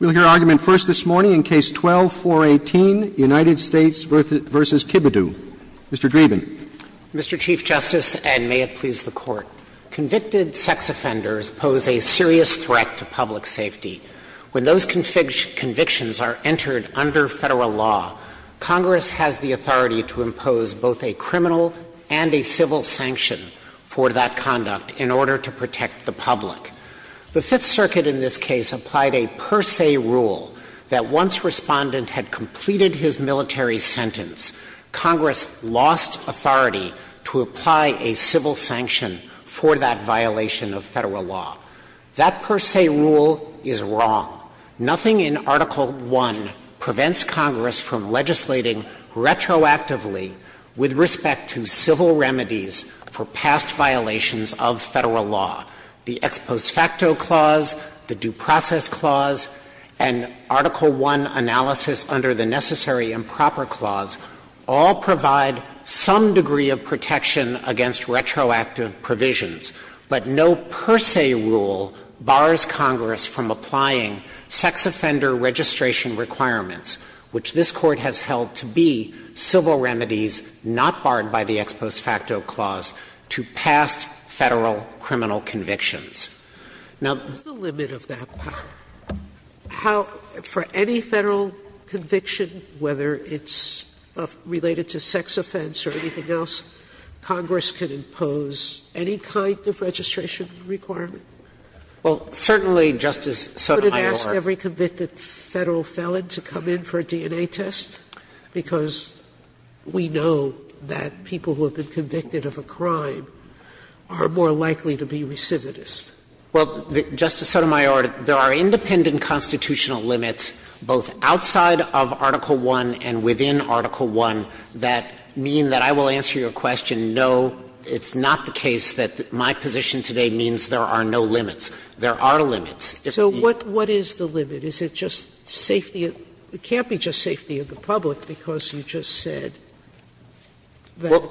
We will hear argument first this morning in Case 12-418, United States v. Kebodeaux. Mr. Dreeben. Mr. Chief Justice, and may it please the Court. Convicted sex offenders pose a serious threat to public safety. When those convictions are entered under Federal law, Congress has the authority to impose both a criminal and a civil sanction for that conduct in order to protect the public. The Fifth Circuit in this case applied a per se rule that once Respondent had completed his military sentence, Congress lost authority to apply a civil sanction for that violation of Federal law. That per se rule is wrong. Nothing in Article I prevents Congress from legislating retroactively with respect to civil remedies for past violations of Federal law. The ex post facto clause, the due process clause, and Article I analysis under the necessary improper clause all provide some degree of protection against retroactive provisions, but no per se rule bars Congress from applying sex offender registration requirements, which this Court has held to be civil remedies not barred by the ex post facto clause to past Federal criminal convictions. Now, the limit of that power, how for any Federal conviction, whether it's related to sex offense or anything else, Congress can impose any kind of registration requirement? Well, certainly, Justice Sotomayor. Sotomayor. Sotomayor. Sotomayor. Sotomayor. Sotomayor. I would ask every convicted Federal felon to come in for a DNA test, because we know that people who have been convicted of a crime are more likely to be recidivist. Well, Justice Sotomayor, there are independent constitutional limits, both outside of Article I and within Article I, that mean that I will answer your question, no, it's not the case that my position today means there are no limits. There are limits. So what is the limit? Is it just safety? It can't be just safety of the public, because you just said that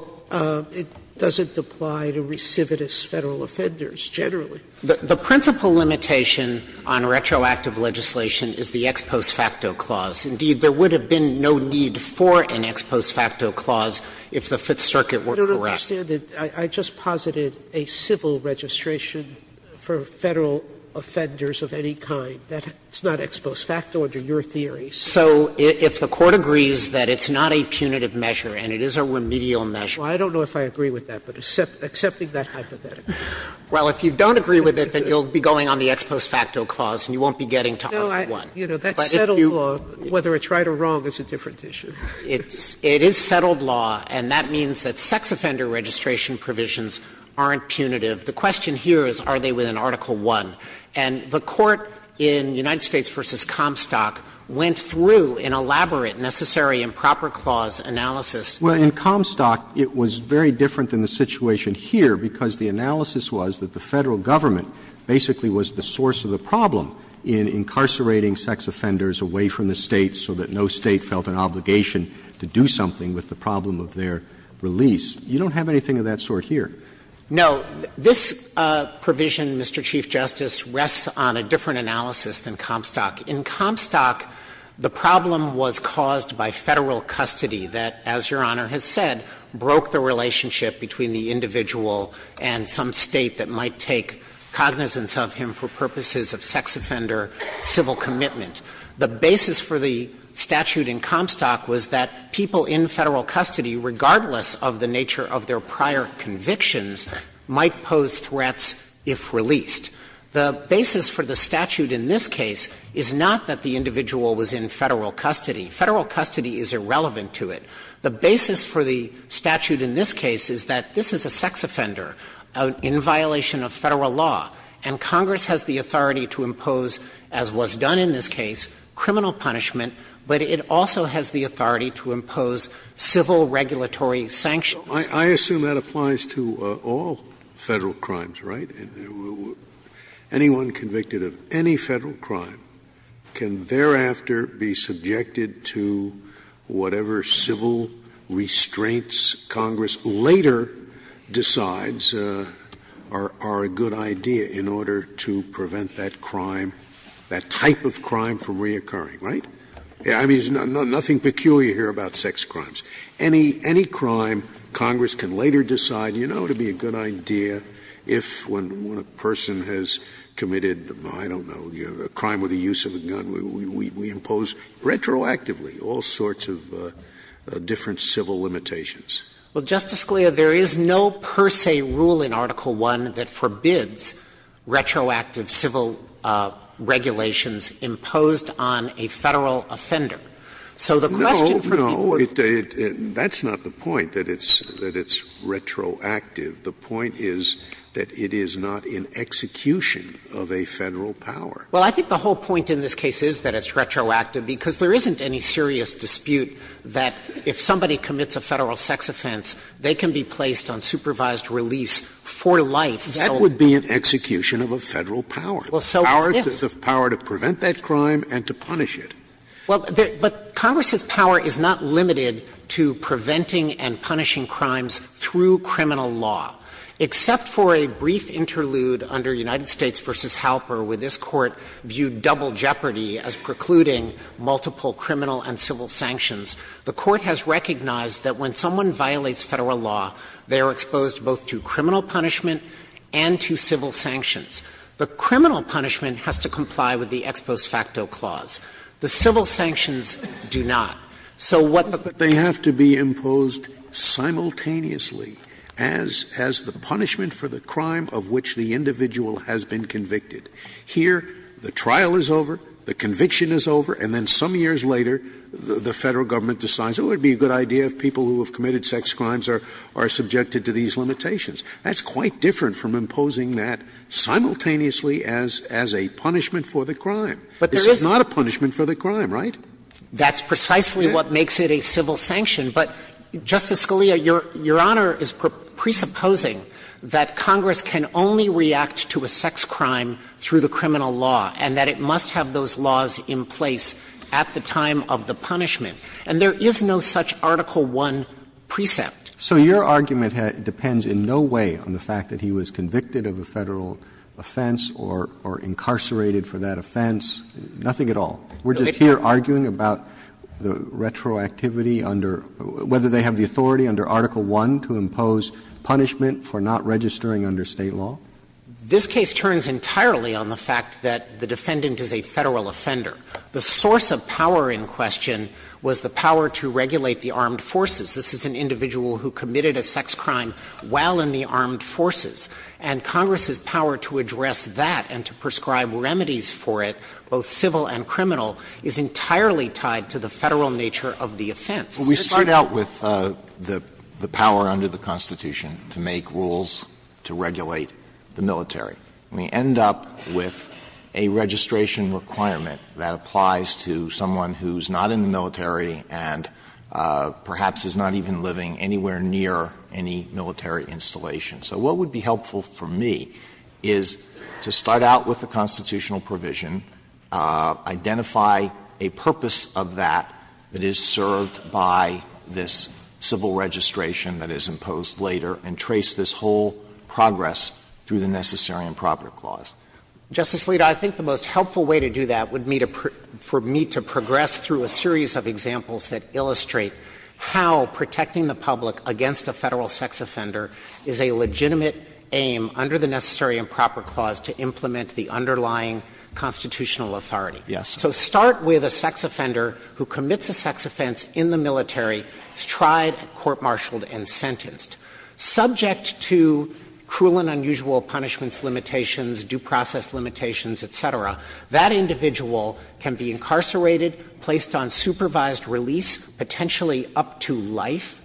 it doesn't apply to recidivist Federal offenders generally. The principal limitation on retroactive legislation is the ex post facto clause. Indeed, there would have been no need for an ex post facto clause if the Fifth Circuit were correct. I don't understand it. I just posited a civil registration for Federal offenders of any kind. That's not ex post facto under your theory. So if the Court agrees that it's not a punitive measure and it is a remedial measure. Sotomayor, I don't know if I agree with that, but accepting that hypothetical. Well, if you don't agree with it, then you'll be going on the ex post facto clause and you won't be getting to Article I. No, that's settled law. Whether it's right or wrong is a different issue. It is settled law, and that means that sex offender registration provisions aren't punitive. The question here is are they within Article I? And the Court in United States v. Comstock went through an elaborate, necessary, improper clause analysis. Well, in Comstock, it was very different than the situation here, because the analysis was that the Federal government basically was the source of the problem in incarcerating sex offenders away from the State so that no State felt an obligation to do something with the problem of their release. You don't have anything of that sort here. No. This provision, Mr. Chief Justice, rests on a different analysis than Comstock. In Comstock, the problem was caused by Federal custody that, as Your Honor has said, broke the relationship between the individual and some State that might take cognizance of him for purposes of sex offender civil commitment. The basis for the statute in Comstock was that people in Federal custody, regardless of the nature of their prior convictions, might pose threats if released. The basis for the statute in this case is not that the individual was in Federal custody. Federal custody is irrelevant to it. The basis for the statute in this case is that this is a sex offender in violation of Federal law, and Congress has the authority to impose, as was done in this case, criminal punishment, but it also has the authority to impose civil regulatory sanctions. Scalia. I assume that applies to all Federal crimes, right? Anyone convicted of any Federal crime can thereafter be subjected to whatever civil restraints Congress later decides are a good idea in order to prevent that crime, that type of crime from reoccurring, right? I mean, there's nothing peculiar here about sex crimes. Any crime, Congress can later decide, you know, to be a good idea if when a person has committed, I don't know, a crime with the use of a gun, we impose retroactively all sorts of different civil limitations. Well, Justice Scalia, there is no per se rule in Article I that forbids retroactive civil regulations imposed on a Federal offender. That's not the point, that it's retroactive. The point is that it is not an execution of a Federal power. Well, I think the whole point in this case is that it's retroactive, because there isn't any serious dispute that if somebody commits a Federal sex offense, they can be placed on supervised release for life. That would be an execution of a Federal power. Well, so what's if? The power to prevent that crime and to punish it. Well, but Congress's power is not limited to preventing and punishing crimes through criminal law. Except for a brief interlude under United States v. Halper, where this Court viewed double jeopardy as precluding multiple criminal and civil sanctions, the Court has recognized that when someone violates Federal law, they are exposed both to criminal punishment and to civil sanctions. The criminal punishment has to comply with the ex post facto clause. The civil sanctions do not. So what the Court has to do is to say that they have to be imposed simultaneously as the punishment for the crime of which the individual has been convicted. Here, the trial is over, the conviction is over, and then some years later, the Federal Government decides, oh, it would be a good idea if people who have committed sex crimes are subjected to these limitations. That's quite different from imposing that simultaneously as a punishment for the crime. This is not a punishment for the crime, right? That's precisely what makes it a civil sanction. But, Justice Scalia, Your Honor is presupposing that Congress can only react to a sex crime through the criminal law, and that it must have those laws in place at the time of the punishment. And there is no such Article I precept. So your argument depends in no way on the fact that he was convicted of a Federal offense or incarcerated for that offense, nothing at all. We're just here arguing about the retroactivity under – whether they have the authority under Article I to impose punishment for not registering under State law? This case turns entirely on the fact that the defendant is a Federal offender. The source of power in question was the power to regulate the armed forces. This is an individual who committed a sex crime while in the armed forces. And Congress's power to address that and to prescribe remedies for it, both civil and criminal, is entirely tied to the Federal nature of the offense. Alito, we start out with the power under the Constitution to make rules to regulate the military. We end up with a registration requirement that applies to someone who is not in the military and perhaps is not even living anywhere near any military installation. So what would be helpful for me is to start out with the constitutional provision, identify a purpose of that that is served by this civil registration that is imposed later, and trace this whole progress through the Necessary Improperty Clause. Justice Alito, I think the most helpful way to do that would be for me to progress through a series of examples that illustrate how protecting the public against a Federal sex offender is a legitimate aim under the Necessary Improperty Clause to implement the underlying constitutional authority. So start with a sex offender who commits a sex offense in the military, is tried, court-martialed, and sentenced. Subject to cruel and unusual punishments limitations, due process limitations, et cetera, that individual can be incarcerated, placed on supervised release, potentially up to life.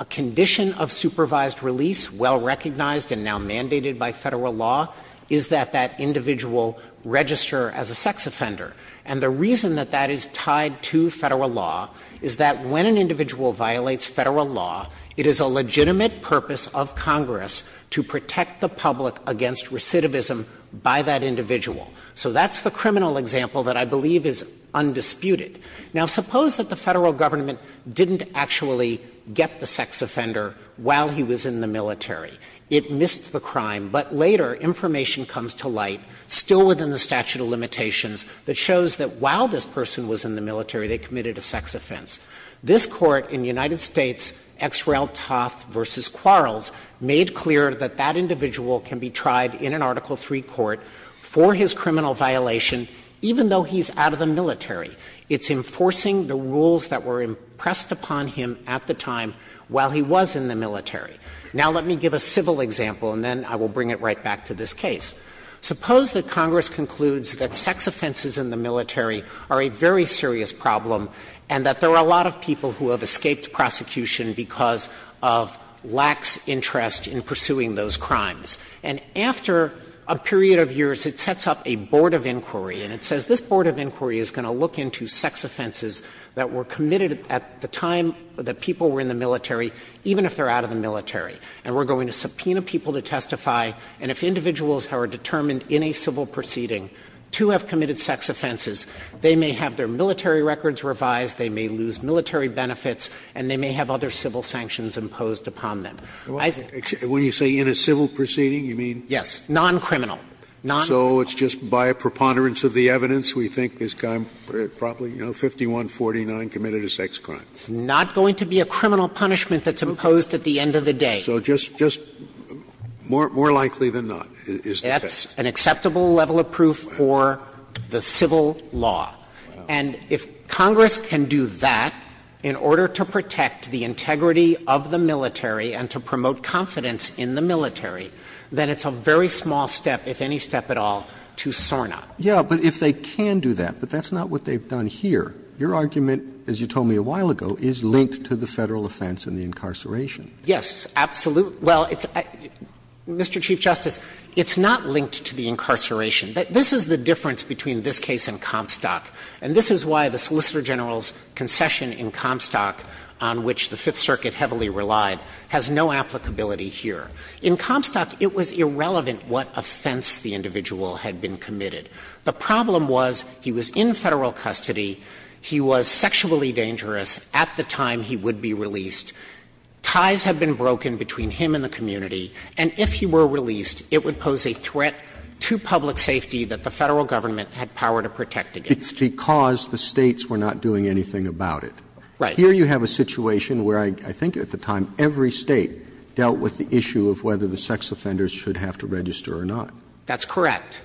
A condition of supervised release, well recognized and now mandated by Federal law, is that that individual register as a sex offender. And the reason that that is tied to Federal law is that when an individual violates Federal law, it is a legitimate purpose of Congress to protect the public against recidivism by that individual. So that's the criminal example that I believe is undisputed. Now, suppose that the Federal Government didn't actually get the sex offender while he was in the military. It missed the crime. But later, information comes to light, still within the statute of limitations, that shows that while this person was in the military, they committed a sex offense. This Court in the United States, Ex Rel Toth v. Quarles, made clear that that individual can be tried in an Article III court for his criminal violation, even though he's out of the military. It's enforcing the rules that were impressed upon him at the time while he was in the military. Now, let me give a civil example, and then I will bring it right back to this case. Suppose that Congress concludes that sex offenses in the military are a very serious problem and that there are a lot of people who have escaped prosecution because of lax interest in pursuing those crimes. And after a period of years, it sets up a board of inquiry, and it says, this board of inquiry is going to look into sex offenses that were committed at the time that people were in the military, even if they're out of the military, and we're going to subpoena people to testify, and if individuals are determined in a civil proceeding to have committed sex offenses, they may have their military records revised, they may lose military benefits, and they may have other civil sanctions imposed upon them. Scalia. When you say in a civil proceeding, you mean? Yes. Non-criminal, non-criminal. So it's just by a preponderance of the evidence, we think this guy probably, you know, 5149, committed a sex crime. It's not going to be a criminal punishment that's imposed at the end of the day. So just more likely than not is the case. That's an acceptable level of proof for the civil law. And if Congress can do that in order to protect the integrity of the military and to promote confidence in the military, then it's a very small step, if any step at all, to Sornop. Yeah, but if they can do that, but that's not what they've done here. Your argument, as you told me a while ago, is linked to the Federal offense and the incarceration. Yes, absolutely. Well, it's Mr. Chief Justice, it's not linked to the incarceration. This is the difference between this case and Comstock. And this is why the Solicitor General's concession in Comstock, on which the Fifth Circuit heavily relied, has no applicability here. In Comstock, it was irrelevant what offense the individual had been committed. The problem was he was in Federal custody, he was sexually dangerous at the time he would be released, ties had been broken between him and the community, and if he were released, it would pose a threat to public safety that the Federal Government had power to protect against. It's because the States were not doing anything about it. Right. Here you have a situation where I think at the time every State dealt with the issue of whether the sex offenders should have to register or not. That's correct.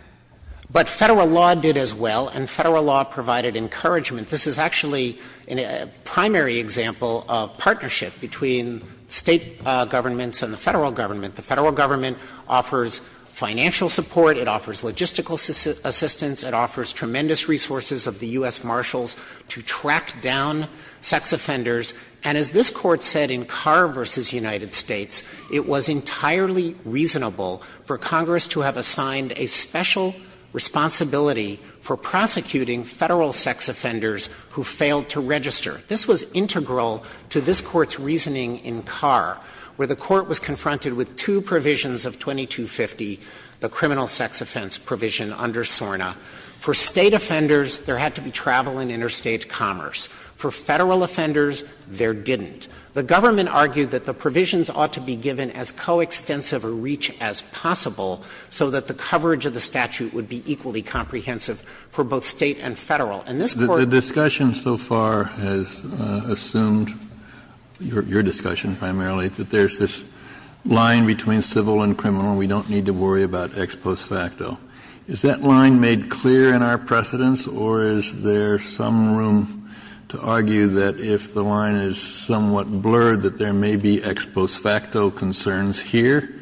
But Federal law did as well, and Federal law provided encouragement. This is actually a primary example of partnership between State governments and the Federal Government. The Federal Government offers financial support, it offers logistical assistance, it offers tremendous resources of the U.S. Marshals to track down sex offenders. And as this Court said in Carr v. United States, it was entirely reasonable for Congress to have assigned a special responsibility for prosecuting Federal sex offenders who failed to register. This was integral to this Court's reasoning in Carr, where the Court was confronted with two provisions of 2250, the criminal sex offense provision under SORNA. For State offenders, there had to be travel and interstate commerce. For Federal offenders, there didn't. The Government argued that the provisions ought to be given as coextensive a reach as possible so that the coverage of the statute would be equally comprehensive for both State and Federal. And this Court ---- Kennedy, the discussion so far has assumed, your discussion primarily, that there's this line between civil and criminal, and we don't need to worry about ex post facto. Is that line made clear in our precedents, or is there some room to argue that if the line is somewhat blurred, that there may be ex post facto concerns here,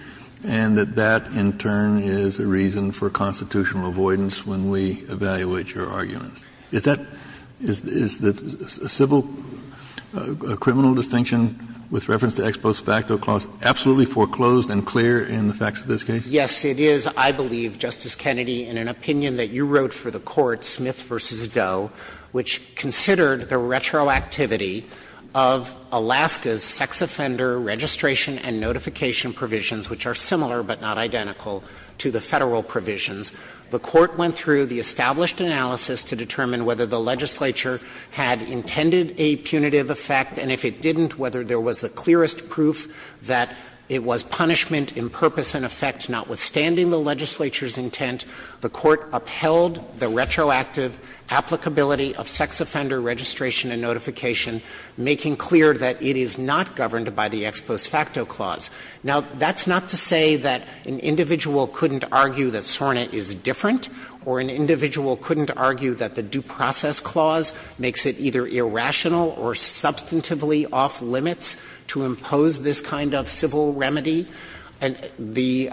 and that that, in turn, is a reason for constitutional avoidance when we evaluate your arguments? Is that ---- is the civil criminal distinction with reference to ex post facto clause absolutely foreclosed and clear in the facts of this case? Yes, it is, I believe, Justice Kennedy, in an opinion that you wrote for the Court, Smith v. Doe, which considered the retroactivity of Alaska's sex offender registration and notification provisions, which are similar but not identical to the Federal provisions. The Court went through the established analysis to determine whether the legislature had intended a punitive effect, and if it didn't, whether there was the clearest proof that it was punishment in purpose and effect, notwithstanding the legislature's intent. The Court upheld the retroactive applicability of sex offender registration and notification, making clear that it is not governed by the ex post facto clause. Now, that's not to say that an individual couldn't argue that SORNA is different, or an individual couldn't argue that the due process clause makes it either irrational or substantively off-limits to impose this kind of civil remedy. The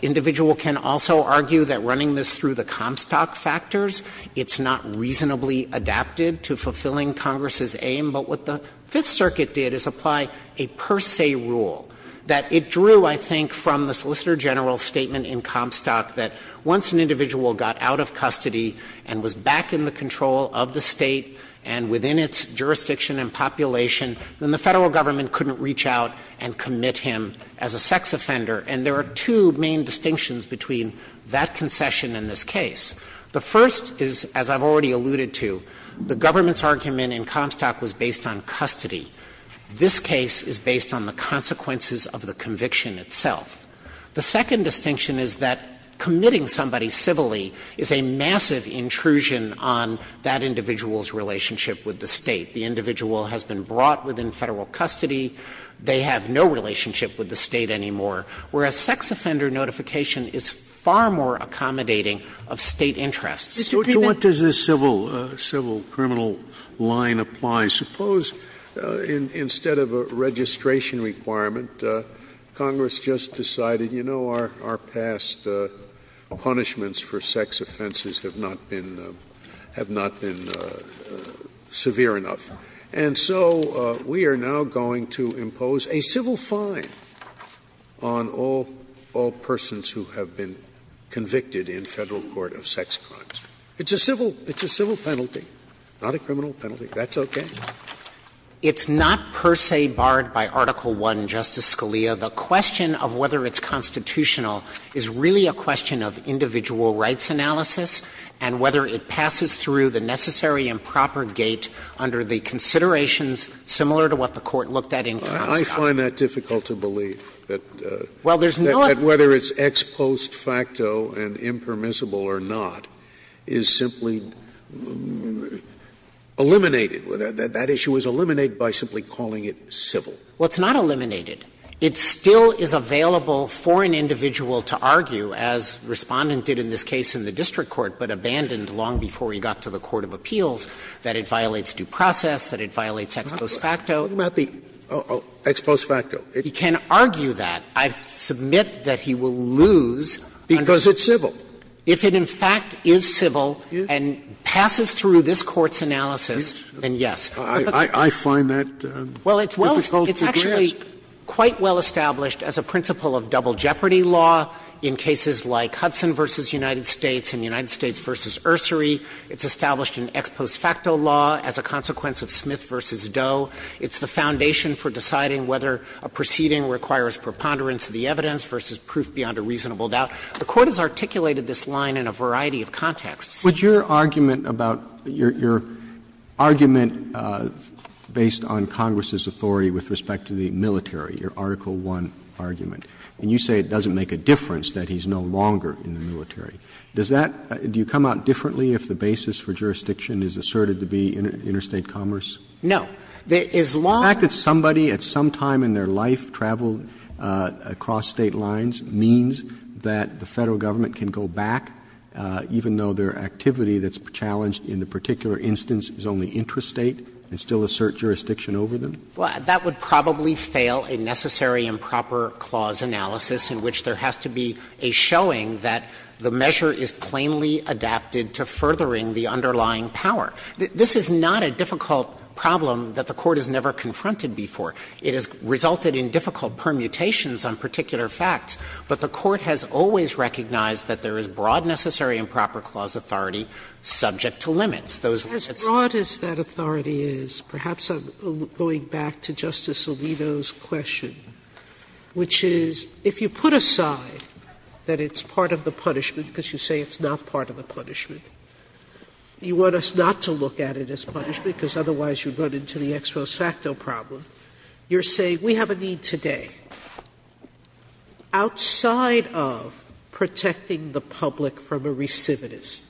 individual can also argue that running this through the Comstock factors, it's not reasonably adapted to fulfilling Congress's aim, but what the Fifth Circuit did is apply a per se rule that it drew, I think, from the Solicitor General's statement in Comstock that once an individual got out of custody and was back in the jurisdiction and population, then the Federal Government couldn't reach out and commit him as a sex offender, and there are two main distinctions between that concession and this case. The first is, as I've already alluded to, the government's argument in Comstock was based on custody. This case is based on the consequences of the conviction itself. The second distinction is that committing somebody civilly is a massive intrusion on that individual's relationship with the State. The individual has been brought within Federal custody. They have no relationship with the State anymore, whereas sex offender notification is far more accommodating of State interests. Sotomayor, what does this civil, civil criminal line apply? Suppose instead of a registration requirement, Congress just decided, you know, our past punishments for sex offenses have not been, have not been severe enough. And so we are now going to impose a civil fine on all, all persons who have been convicted in Federal court of sex crimes. It's a civil, it's a civil penalty, not a criminal penalty. That's okay. It's not per se barred by Article I, Justice Scalia. The question of whether it's constitutional is really a question of individual rights analysis and whether it passes through the necessary and proper gate under the considerations similar to what the Court looked at in Comstock. Scalia, I find that difficult to believe, that whether it's ex post facto and impermissible or not is simply eliminated. That issue is eliminated by simply calling it civil. Well, it's not eliminated. It still is available for an individual to argue, as Respondent did in this case in the district court but abandoned long before he got to the court of appeals, that it violates due process, that it violates ex post facto. Scalia, what about the ex post facto? He can argue that. I submit that he will lose under that. Because it's civil. If it in fact is civil and passes through this Court's analysis, then yes. I find that difficult to grasp. Well, it's well – it's actually quite well established as a principle of double jeopardy law in cases like Hudson v. United States and United States v. Ursary. It's established in ex post facto law as a consequence of Smith v. Doe. It's the foundation for deciding whether a proceeding requires preponderance of the evidence versus proof beyond a reasonable doubt. Would your argument about – your argument based on Congress's authority with respect to the military, your Article I argument, and you say it doesn't make a difference, that he's no longer in the military, does that – do you come out differently if the basis for jurisdiction is asserted to be interstate commerce? No. The fact that somebody at some time in their life traveled across State lines means that the Federal government can go back, even though their activity that's challenged in the particular instance is only intrastate, and still assert jurisdiction over them? Well, that would probably fail a necessary improper clause analysis in which there has to be a showing that the measure is plainly adapted to furthering the underlying power. This is not a difficult problem that the Court has never confronted before. It has resulted in difficult permutations on particular facts, but the Court has always recognized that there is broad necessary improper clause authority subject to limits. Those that's – As broad as that authority is, perhaps I'm going back to Justice Alito's question, which is, if you put aside that it's part of the punishment, because you say it's not part of the punishment, you want us not to look at it as punishment, because otherwise you'd run into the ex-pros facto problem. You're saying, we have a need today. Outside of protecting the public from a recidivist,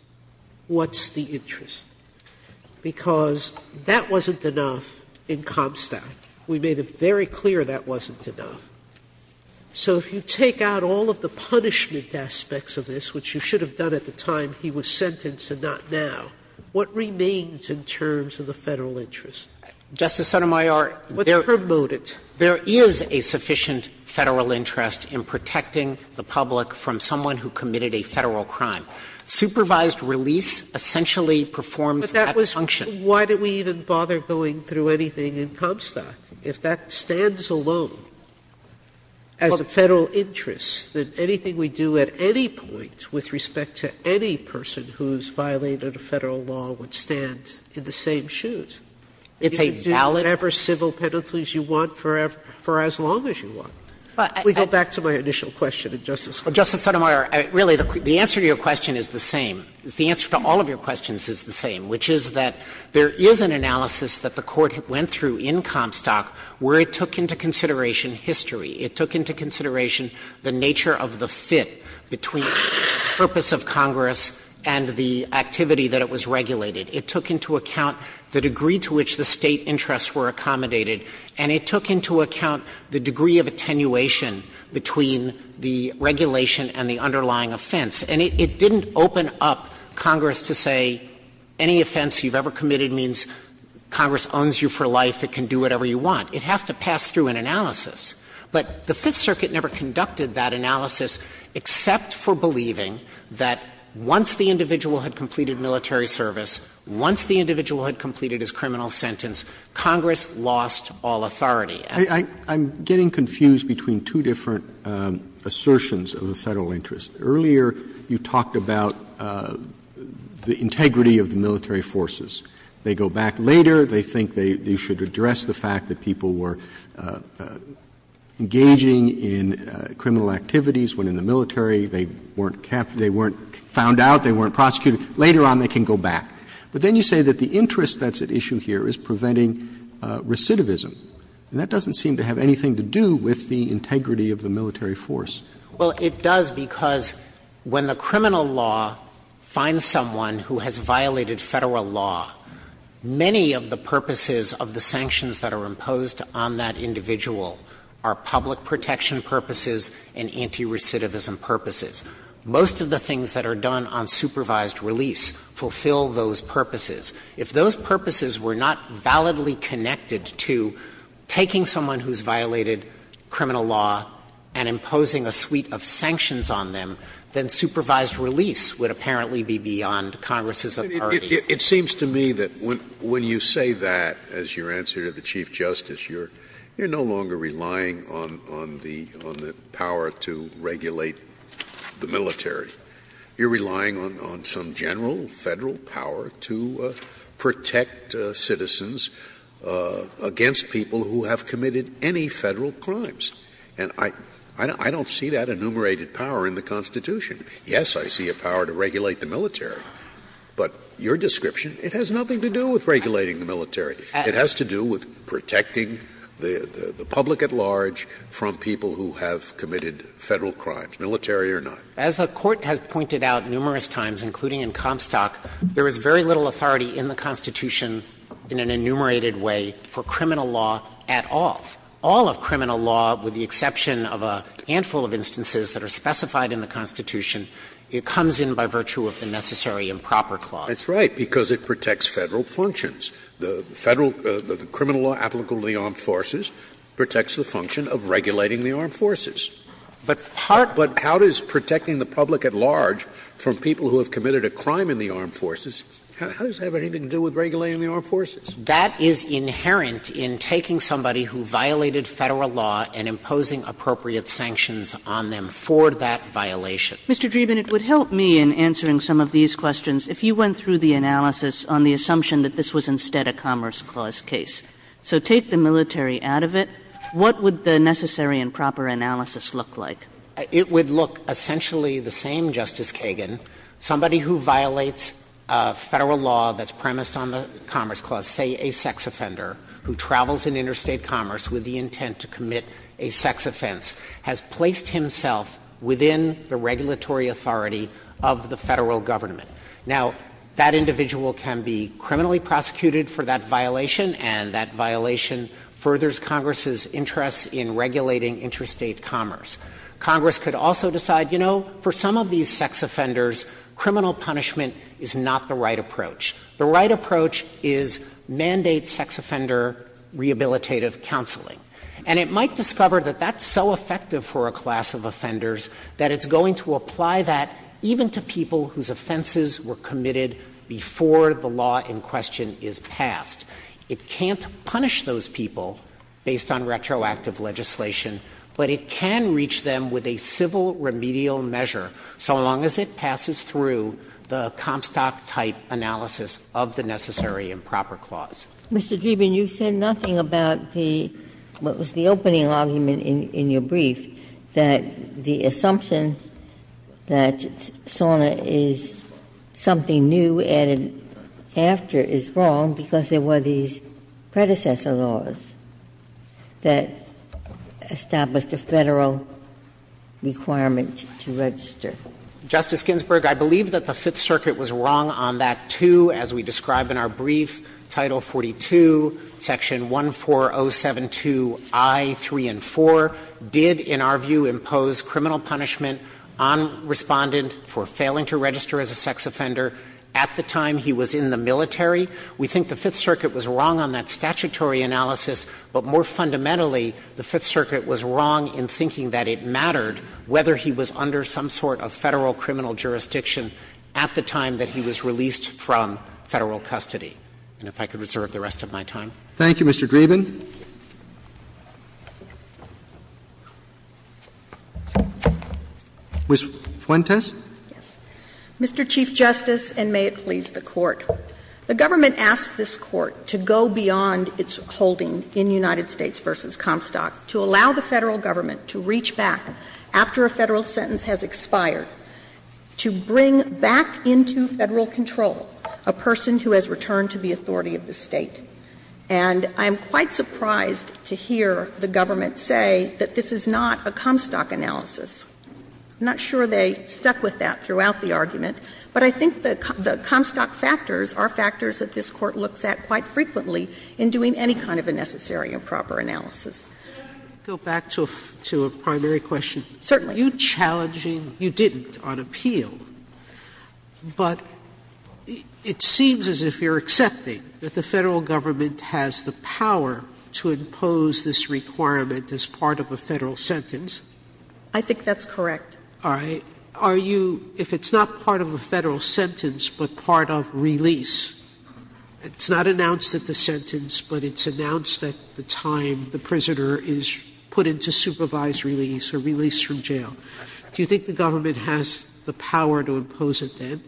what's the interest? Because that wasn't enough in Comstock. We made it very clear that wasn't enough. So if you take out all of the punishment aspects of this, which you should have done at the time he was sentenced and not now, what remains in terms of the Federal interest? Justice Sotomayor, there is a sufficient Federal interest in protecting the public from someone who committed a Federal crime. Supervised release essentially performs that function. But that was – why did we even bother going through anything in Comstock? If that stands alone as a Federal interest, then anything we do at any point with respect to any person who's violated a Federal law would stand in the same shoes. It's a valid – You can do whatever civil penalties you want for as long as you want. If we go back to my initial question to Justice Sotomayor. Justice Sotomayor, really the answer to your question is the same. The answer to all of your questions is the same, which is that there is an analysis that the Court went through in Comstock where it took into consideration history. It took into consideration the nature of the fit between the purpose of Congress and the activity that it was regulated. It took into account the degree to which the State interests were accommodated. And it took into account the degree of attenuation between the regulation and the underlying offense. And it didn't open up Congress to say any offense you've ever committed means Congress owns you for life, it can do whatever you want. It has to pass through an analysis. But the Fifth Circuit never conducted that analysis except for believing that once the individual had completed military service, once the individual had completed his criminal sentence, Congress lost all authority. Roberts. I'm getting confused between two different assertions of the Federal interest. Earlier, you talked about the integrity of the military forces. They go back later, they think they should address the fact that people were engaging in criminal activities when in the military, they weren't found out, they weren't prosecuted, later on they can go back. But then you say that the interest that's at issue here is preventing recidivism. And that doesn't seem to have anything to do with the integrity of the military force. Well, it does because when the criminal law finds someone who has violated Federal criminal law, many of the purposes of the sanctions that are imposed on that individual are public protection purposes and anti-recidivism purposes. Most of the things that are done on supervised release fulfill those purposes. If those purposes were not validly connected to taking someone who's violated criminal law and imposing a suite of sanctions on them, then supervised release would apparently be beyond Congress's authority. It seems to me that when you say that, as your answer to the Chief Justice, you're no longer relying on the power to regulate the military. You're relying on some general Federal power to protect citizens against people who have committed any Federal crimes. And I don't see that enumerated power in the Constitution. Yes, I see a power to regulate the military. But your description, it has nothing to do with regulating the military. It has to do with protecting the public at large from people who have committed Federal crimes, military or not. As the Court has pointed out numerous times, including in Comstock, there is very little authority in the Constitution in an enumerated way for criminal law at all. All of criminal law, with the exception of a handful of instances that are specified in the Constitution, it comes in by virtue of the Necessary and Proper Clause. It's right, because it protects Federal functions. The Federal – the criminal law applicable to the armed forces protects the function of regulating the armed forces. But part of it is protecting the public at large from people who have committed a crime in the armed forces. How does that have anything to do with regulating the armed forces? That is inherent in taking somebody who violated Federal law and imposing appropriate sanctions on them for that violation. Kagan. Mr. Dreeben, it would help me in answering some of these questions if you went through the analysis on the assumption that this was instead a Commerce Clause case. So take the military out of it. What would the Necessary and Proper Analysis look like? It would look essentially the same, Justice Kagan. Somebody who violates Federal law that's premised on the Commerce Clause, say a sex offender who travels in interstate commerce with the intent to commit a sex offense, has placed himself within the regulatory authority of the Federal Government. Now, that individual can be criminally prosecuted for that violation, and that violation furthers Congress's interest in regulating interstate commerce. Congress could also decide, you know, for some of these sex offenders, criminal punishment is not the right approach. The right approach is mandate sex offender rehabilitative counseling. And it might discover that that's so effective for a class of offenders that it's going to apply that even to people whose offenses were committed before the law in question is passed. It can't punish those people based on retroactive legislation, but it can reach them with a civil remedial measure so long as it passes through the Comstock-type analysis of the Necessary and Proper Clause. Ginsburg. Mr. Dreeben, you said nothing about the opening argument in your brief, that the assumption that SORNA is something new added after is wrong because there were these predecessor laws that established a Federal requirement to register. Justice Ginsburg, I believe that the Fifth Circuit was wrong on that, too, as we described in our brief, Title 42, Section 14072i, 3 and 4, did, in our view, impose criminal punishment on Respondent for failing to register as a sex offender at the time he was in the military. We think the Fifth Circuit was wrong on that statutory analysis, but more fundamentally, the Fifth Circuit was wrong in thinking that it mattered whether he was under some sort of Federal criminal jurisdiction at the time that he was released from Federal custody. And if I could reserve the rest of my time. Thank you, Mr. Dreeben. Ms. Fuentes. Yes. Mr. Chief Justice, and may it please the Court. The government asked this Court to go beyond its holding in United States v. Comstock to allow the Federal government to reach back, after a Federal sentence has expired, to bring back into Federal control a person who has returned to the authority of the State. And I'm quite surprised to hear the government say that this is not a Comstock analysis. I'm not sure they stuck with that throughout the argument, but I think the Comstock factors are factors that this Court looks at quite frequently in doing any kind of a necessary and proper analysis. Sotomayor, go back to a primary question. Certainly. Are you challenging you didn't on appeal, but it seems as if you're accepting that the Federal government has the power to impose this requirement as part of a Federal sentence. I think that's correct. All right. Are you – if it's not part of a Federal sentence, but part of release, it's not announced at the sentence, but it's announced at the time the prisoner is put into supervised release or released from jail, do you think the government has the power to impose it then?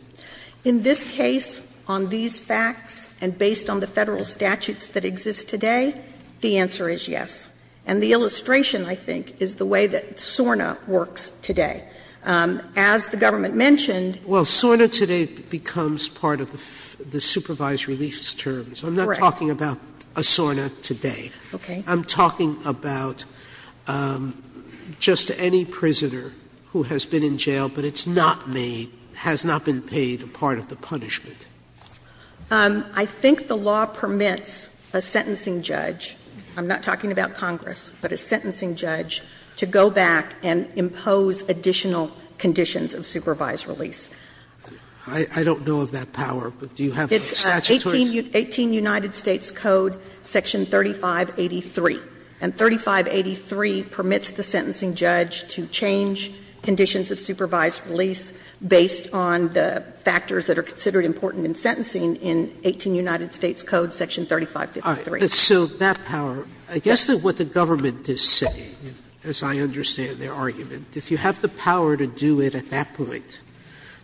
In this case, on these facts, and based on the Federal statutes that exist today, the answer is yes. And the illustration, I think, is the way that SORNA works today. As the government mentioned – Well, SORNA today becomes part of the supervised release terms. Correct. I'm not talking about a SORNA today. Okay. I'm talking about just any prisoner who has been in jail, but it's not made, has not been paid a part of the punishment. I think the law permits a sentencing judge – I'm not talking about Congress, but a sentencing judge – to go back and impose additional conditions of supervised release. I don't know of that power, but do you have the statutory? 18 United States Code, section 3583. And 3583 permits the sentencing judge to change conditions of supervised release based on the factors that are considered important in sentencing in 18 United States Code, section 3553. So that power – I guess that what the government is saying, as I understand their argument, if you have the power to do it at that point,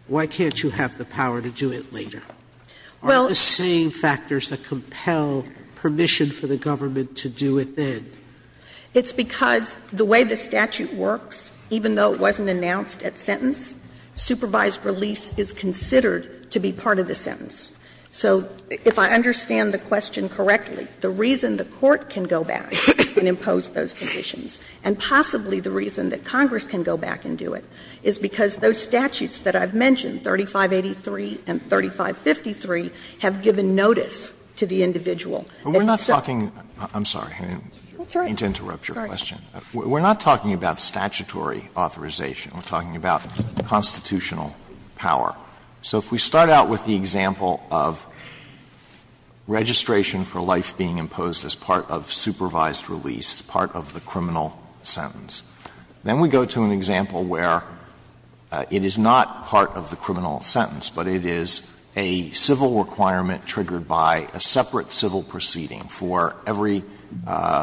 why can't you have the power to do it later? Are the same factors that compel permission for the government to do it then? It's because the way the statute works, even though it wasn't announced at sentence, supervised release is considered to be part of the sentence. So if I understand the question correctly, the reason the Court can go back and impose those conditions, and possibly the reason that Congress can go back and do it, is because those statutes that I've mentioned, 3583 and 3553, have given notice to the individual. Alito, I'm sorry. I didn't mean to interrupt your question. We're not talking about statutory authorization. We're talking about constitutional power. So if we start out with the example of registration for life being imposed as part of supervised release, part of the criminal sentence, then we go to an example where it is not part of the criminal sentence, but it is a civil requirement triggered by a separate civil proceeding for every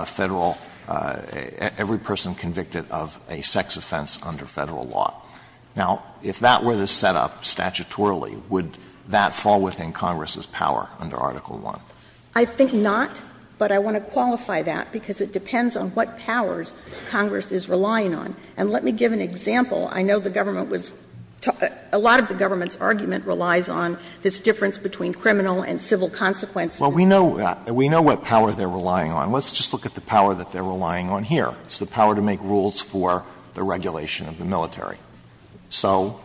Federal — every person convicted of a sex offense under Federal law. Now, if that were the setup statutorily, would that fall within Congress's power under Article I? I think not, but I want to qualify that, because it depends on what powers Congress is relying on. And let me give an example. I know the government was — a lot of the government's argument relies on this difference between criminal and civil consequences. Alito, we know what power they're relying on. Let's just look at the power that they're relying on here. It's the power to make rules for the regulation of the military. So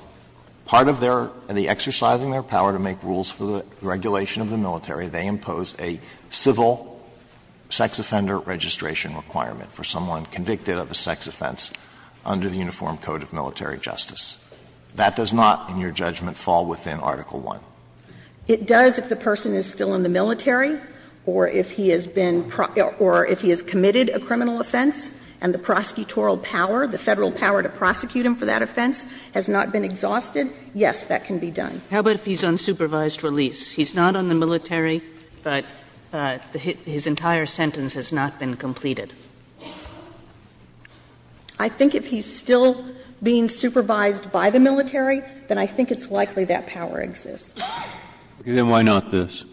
part of their — the exercising their power to make rules for the regulation of the military, they impose a civil sex offender registration requirement for someone convicted of a sex offense under the Uniform Code of Military Justice. That does not, in your judgment, fall within Article I. It does if the person is still in the military or if he has been — or if he has committed a criminal offense and the prosecutorial power, the Federal power to prosecute him for that offense has not been exhausted. Yes, that can be done. How about if he's on supervised release? He's not on the military, but his entire sentence has not been completed. I think if he's still being supervised by the military, then I think it's likely that power exists. Breyer. Then why not this?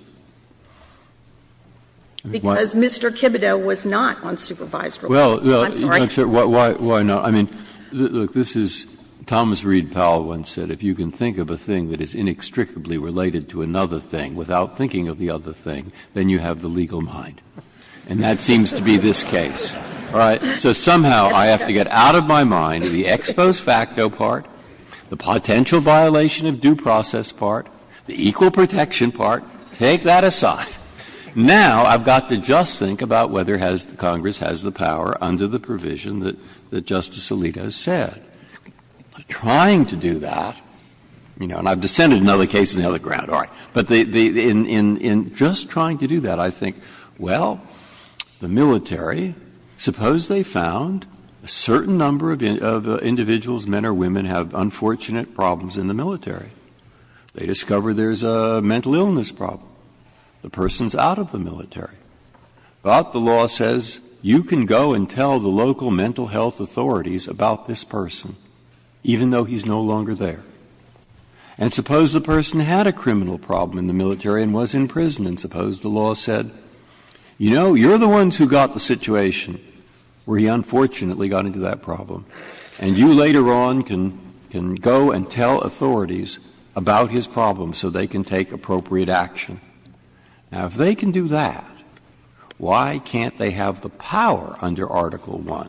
Because Mr. Kibideau was not on supervised release. I'm sorry. Why not? I mean, look, this is — Thomas Reid Powell once said, if you can think of a thing that is inextricably related to another thing without thinking of the other thing, then you have the legal mind. And that seems to be this case. All right? So somehow I have to get out of my mind the ex post facto part, the potential violation of due process part, the equal protection part. Take that aside. Now I've got to just think about whether Congress has the power under the provision that Justice Alito said. Trying to do that, you know, and I've dissented in other cases on the other ground. But in just trying to do that, I think, well, the military, suppose they found a certain number of individuals, men or women, have unfortunate problems in the military. They discover there's a mental illness problem. The person's out of the military. But the law says you can go and tell the local mental health authorities about this person, even though he's no longer there. And suppose the person had a criminal problem in the military and was in prison. And suppose the law said, you know, you're the ones who got the situation where he unfortunately got into that problem, and you later on can go and tell authorities about his problem so they can take appropriate action. Now, if they can do that, why can't they have the power under Article I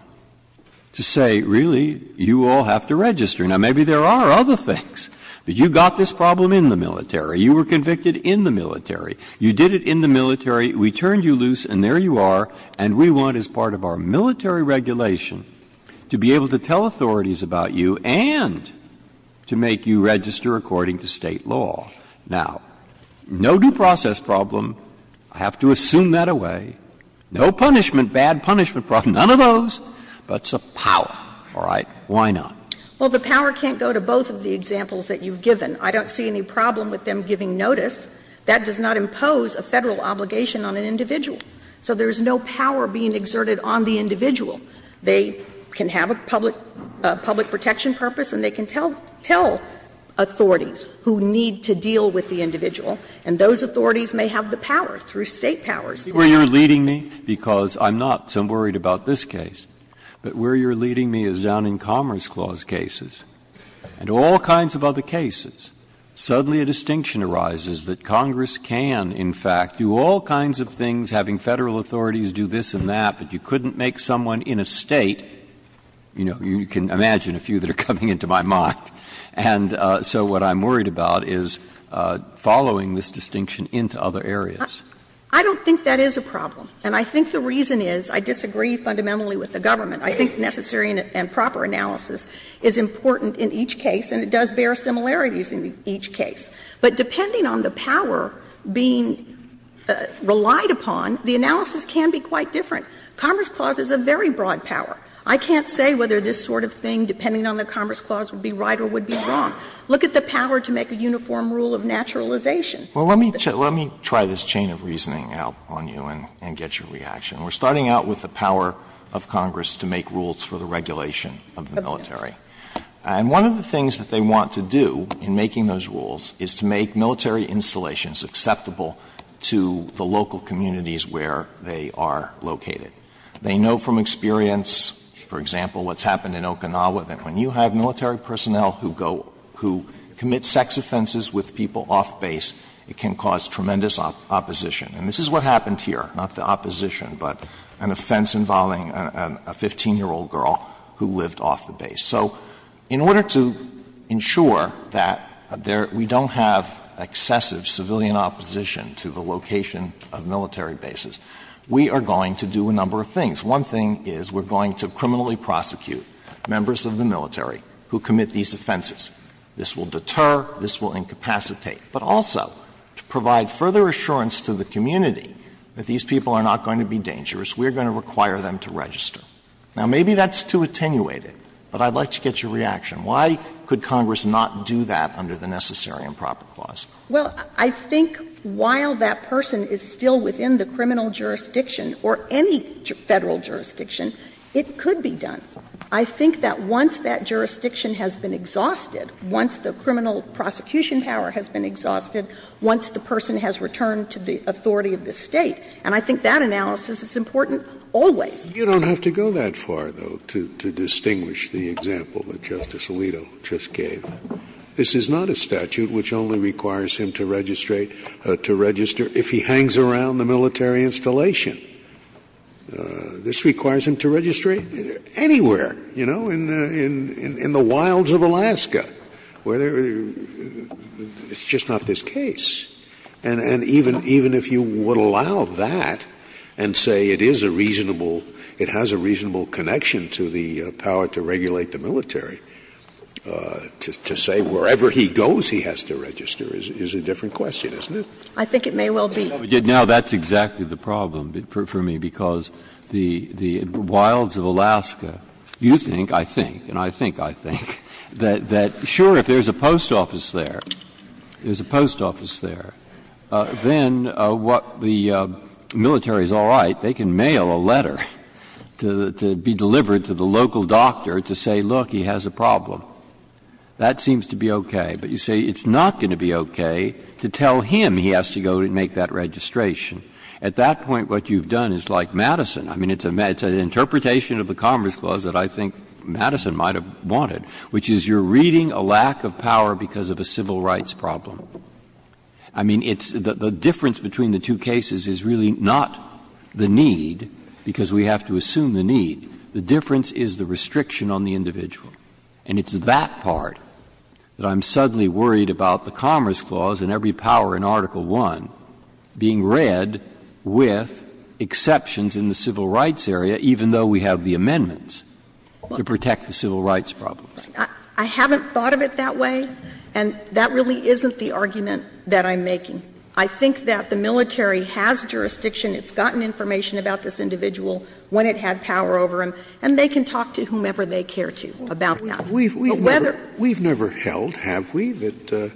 to say, really, you all have to register? Now, maybe there are other things, but you got this problem in the military. You were convicted in the military. You did it in the military. We turned you loose, and there you are. And we want, as part of our military regulation, to be able to tell authorities about you and to make you register according to State law. Now, no due process problem, I have to assume that away. No punishment, bad punishment problem, none of those, but it's a power, all right? Why not? Well, the power can't go to both of the examples that you've given. I don't see any problem with them giving notice. That does not impose a Federal obligation on an individual. So there is no power being exerted on the individual. They can have a public protection purpose and they can tell authorities who need to deal with the individual, and those authorities may have the power through State powers. Where you're leading me, because I'm not, so I'm worried about this case, but where you're leading me, because I'm worried about this case, but I'm worried about all kinds of cases, and all kinds of other cases. Suddenly a distinction arises that Congress can, in fact, do all kinds of things, having Federal authorities do this and that, but you couldn't make someone in a State you know, you can imagine a few that are coming into my mind. And so what I'm worried about is following this distinction into other areas. I don't think that is a problem, and I think the reason is, I disagree fundamentally with the government. I think necessary and proper analysis is important in each case, and it does bear similarities in each case. But depending on the power being relied upon, the analysis can be quite different. Commerce Clause is a very broad power. I can't say whether this sort of thing, depending on the Commerce Clause, would be right or would be wrong. Look at the power to make a uniform rule of naturalization. Alito, let me try this chain of reasoning out on you and get your reaction. We're starting out with the power of Congress to make rules for the regulation of the military. And one of the things that they want to do in making those rules is to make military installations acceptable to the local communities where they are located. They know from experience, for example, what's happened in Okinawa, that when you have military personnel who go, who commit sex offenses with people off base, it can cause tremendous opposition. And this is what happened here, not the opposition, but an offense involving a 15-year-old girl who lived off the base. So in order to ensure that there we don't have excessive civilian opposition to the location of military bases, we are going to do a number of things. One thing is we're going to criminally prosecute members of the military who commit these offenses. This will deter, this will incapacitate. But also, to provide further assurance to the community that these people are not going to be dangerous, we are going to require them to register. Now, maybe that's too attenuated, but I'd like to get your reaction. Why could Congress not do that under the Necessary and Proper Clause? Well, I think while that person is still within the criminal jurisdiction or any Federal jurisdiction, it could be done. I think that once that jurisdiction has been exhausted, once the criminal prosecution power has been exhausted, once the person has returned to the authority of the State, and I think that analysis is important always. Scalia, you don't have to go that far, though, to distinguish the example that Justice Alito just gave. This is not a statute which only requires him to register if he hangs around the military installation. This requires him to register anywhere, you know, in the wilds of Alaska. It's just not this case. And even if you would allow that and say it is a reasonable, it has a reasonable connection to the power to regulate the military, to say wherever he goes, he has to register is a different question, isn't it? I think it may well be. Now, that's exactly the problem for me, because the wilds of Alaska, you think, I think, and I think, I think, that sure, if there's a post office there, there's a post office there, then what the military is all right, they can mail a letter to be delivered to the local doctor to say, look, he has a problem. That seems to be okay. But you say it's not going to be okay to tell him he has to go and make that registration. At that point, what you've done is like Madison. I mean, it's an interpretation of the Commerce Clause that I think Madison might have wanted, which is you're reading a lack of power because of a civil rights problem. I mean, it's the difference between the two cases is really not the need, because we have to assume the need. The difference is the restriction on the individual. And it's that part that I'm suddenly worried about the Commerce Clause and every power in Article I being read with exceptions in the civil rights area, even though we have the amendments to protect the civil rights problems. I haven't thought of it that way, and that really isn't the argument that I'm making. I think that the military has jurisdiction. It's gotten information about this individual when it had power over him, and they can talk to whomever they care to about that. But whether we've never held, have we, that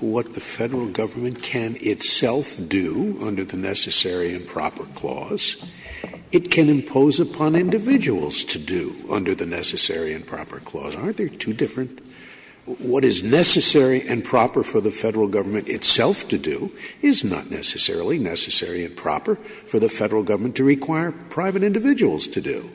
what the Federal Government can itself do under the Necessary and Proper Clause, it can impose upon individuals to do under the Necessary and Proper Clause. Aren't they two different? What is necessary and proper for the Federal Government itself to do is not necessarily necessary and proper for the Federal Government to require private individuals to do.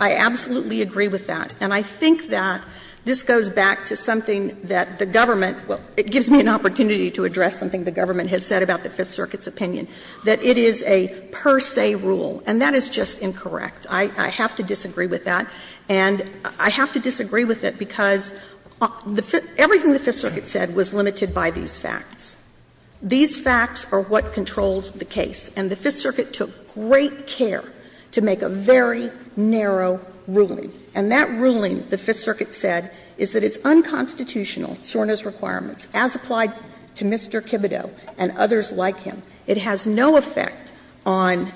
I absolutely agree with that. And I think that this goes back to something that the government – well, it gives me an opportunity to address something the government has said about the Fifth Circuit's opinion, that it is a per se rule, and that is just incorrect. I have to disagree with that. And I have to disagree with it because everything the Fifth Circuit said was limited by these facts. These facts are what controls the case, and the Fifth Circuit took great care to make a very narrow ruling. And that ruling, the Fifth Circuit said, is that it's unconstitutional, SORNA's requirements, as applied to Mr. Kibito and others like him. It has no effect on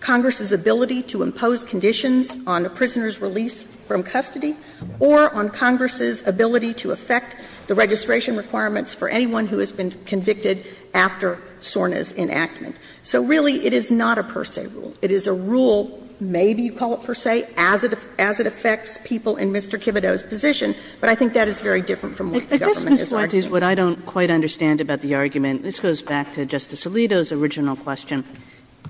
Congress's ability to impose conditions on a prisoner's release from custody or on Congress's ability to affect the registration requirements for anyone who has been convicted after SORNA's enactment. So really, it is not a per se rule. It is a rule, maybe you call it per se, as it – as it affects people in Mr. Kibito's position. But I think that is very different from what the government is arguing. Kagan. Kagan. But this, Ms. Lunti, is what I don't quite understand about the argument. This goes back to Justice Alito's original question.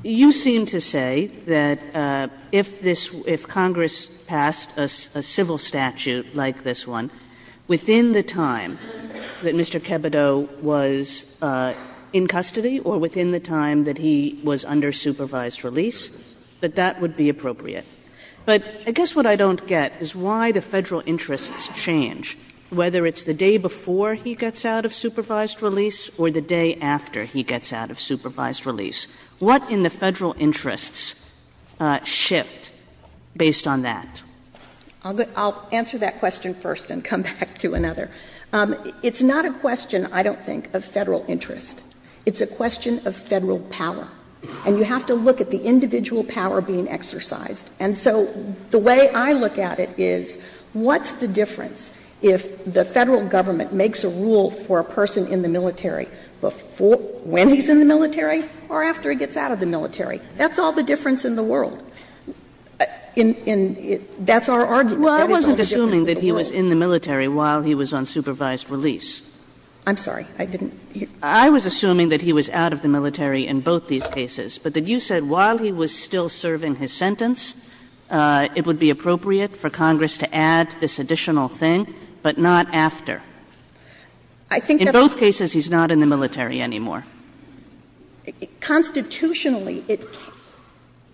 You seem to say that if this – if Congress passed a civil statute like this one, within the time that Mr. Kibito was in custody or within the time that he was under supervised release, that that would be appropriate. But I guess what I don't get is why the federal interests change, whether it's the day before he gets out of supervised release or the day after he gets out of supervised release. What in the federal interests shift based on that? Lunti, I'll answer that question first and come back to another. It's not a question, I don't think, of federal interest. It's a question of federal power. And you have to look at the individual power being exercised. And so the way I look at it is, what's the difference if the federal government makes a rule for a person in the military before – when he's in the military or after he gets out of the military? That's all the difference in the world. And that's our argument. Kagan Well, I wasn't assuming that he was in the military while he was on supervised release. Lunti, I'm sorry. I didn't hear. Kagan I was assuming that he was out of the military in both these cases, but that you said while he was still serving his sentence, it would be appropriate for Congress to add this additional thing, but not after. Lunti, I think that's what I'm saying. Kagan In both cases, he's not in the military anymore. Lunti, Constitutionally, it can be.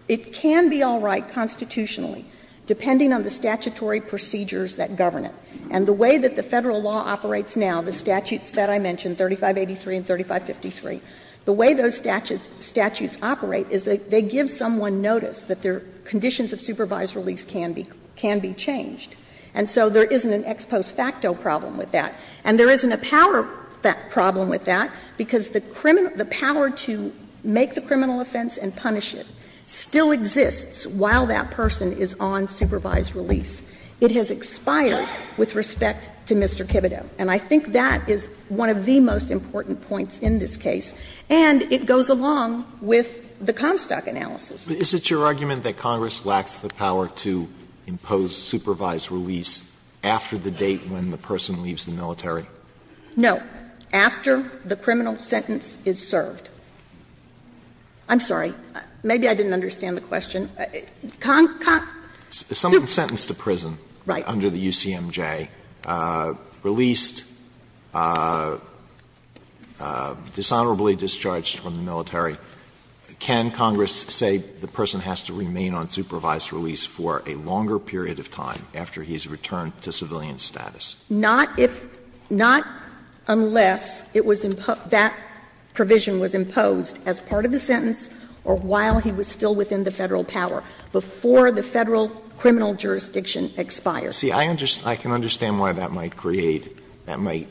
It can be all right constitutionally, depending on the statutory procedures that govern it. And the way that the Federal law operates now, the statutes that I mentioned, 3583 and 3553, the way those statutes operate is they give someone notice that their conditions of supervised release can be changed. And so there isn't an ex post facto problem with that. And there isn't a power problem with that, because the power to make the criminal offense and punish it still exists while that person is on supervised release. It has expired with respect to Mr. Kibitow. And I think that is one of the most important points in this case. And it goes along with the Comstock analysis. Alito But is it your argument that Congress lacks the power to impose supervised release after the date when the person leaves the military? Lunti, No. After the criminal sentence is served. I'm sorry. Maybe I didn't understand the question. Conco Someone sentenced to prison under the UCMJ, released, dishonorably discharged from the military. Can Congress say the person has to remain on supervised release for a longer period of time after he has returned to civilian status? Lunti, Not if, not unless it was imposed, that provision was imposed as part of the sentence or while he was still within the Federal power, before the Federal criminal jurisdiction expires. Alito See, I can understand why that might create, that might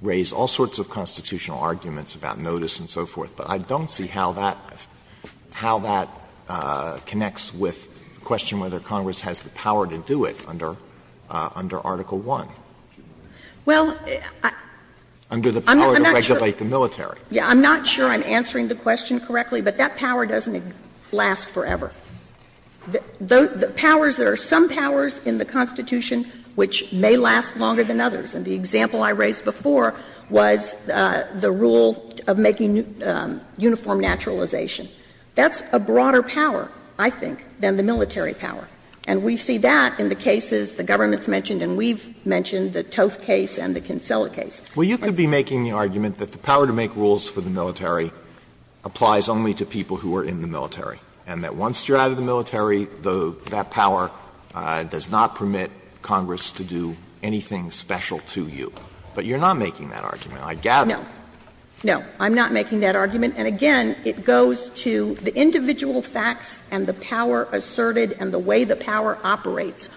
raise all sorts of constitutional arguments about notice and so forth, but I don't see how that, how that connects with the question whether Congress has the power to do it under Article I. Well, I'm not sure. Sotomayor Under the power to regulate the military. Lunti, I'm not sure I'm answering the question correctly, but that power doesn't last forever. The powers, there are some powers in the Constitution which may last longer than others. And the example I raised before was the rule of making uniform naturalization. That's a broader power, I think, than the military power. And we see that in the cases the government's mentioned and we've mentioned, the Tove case and the Kinsella case. Alito Well, you could be making the argument that the power to make rules for the military applies only to people who are in the military, and that once you're out of the military, the, that power does not permit Congress to do anything special to you. But you're not making that argument, I gather. Lunti, No. No, I'm not making that argument. And, again, it goes to the individual facts and the power asserted and the way the power operates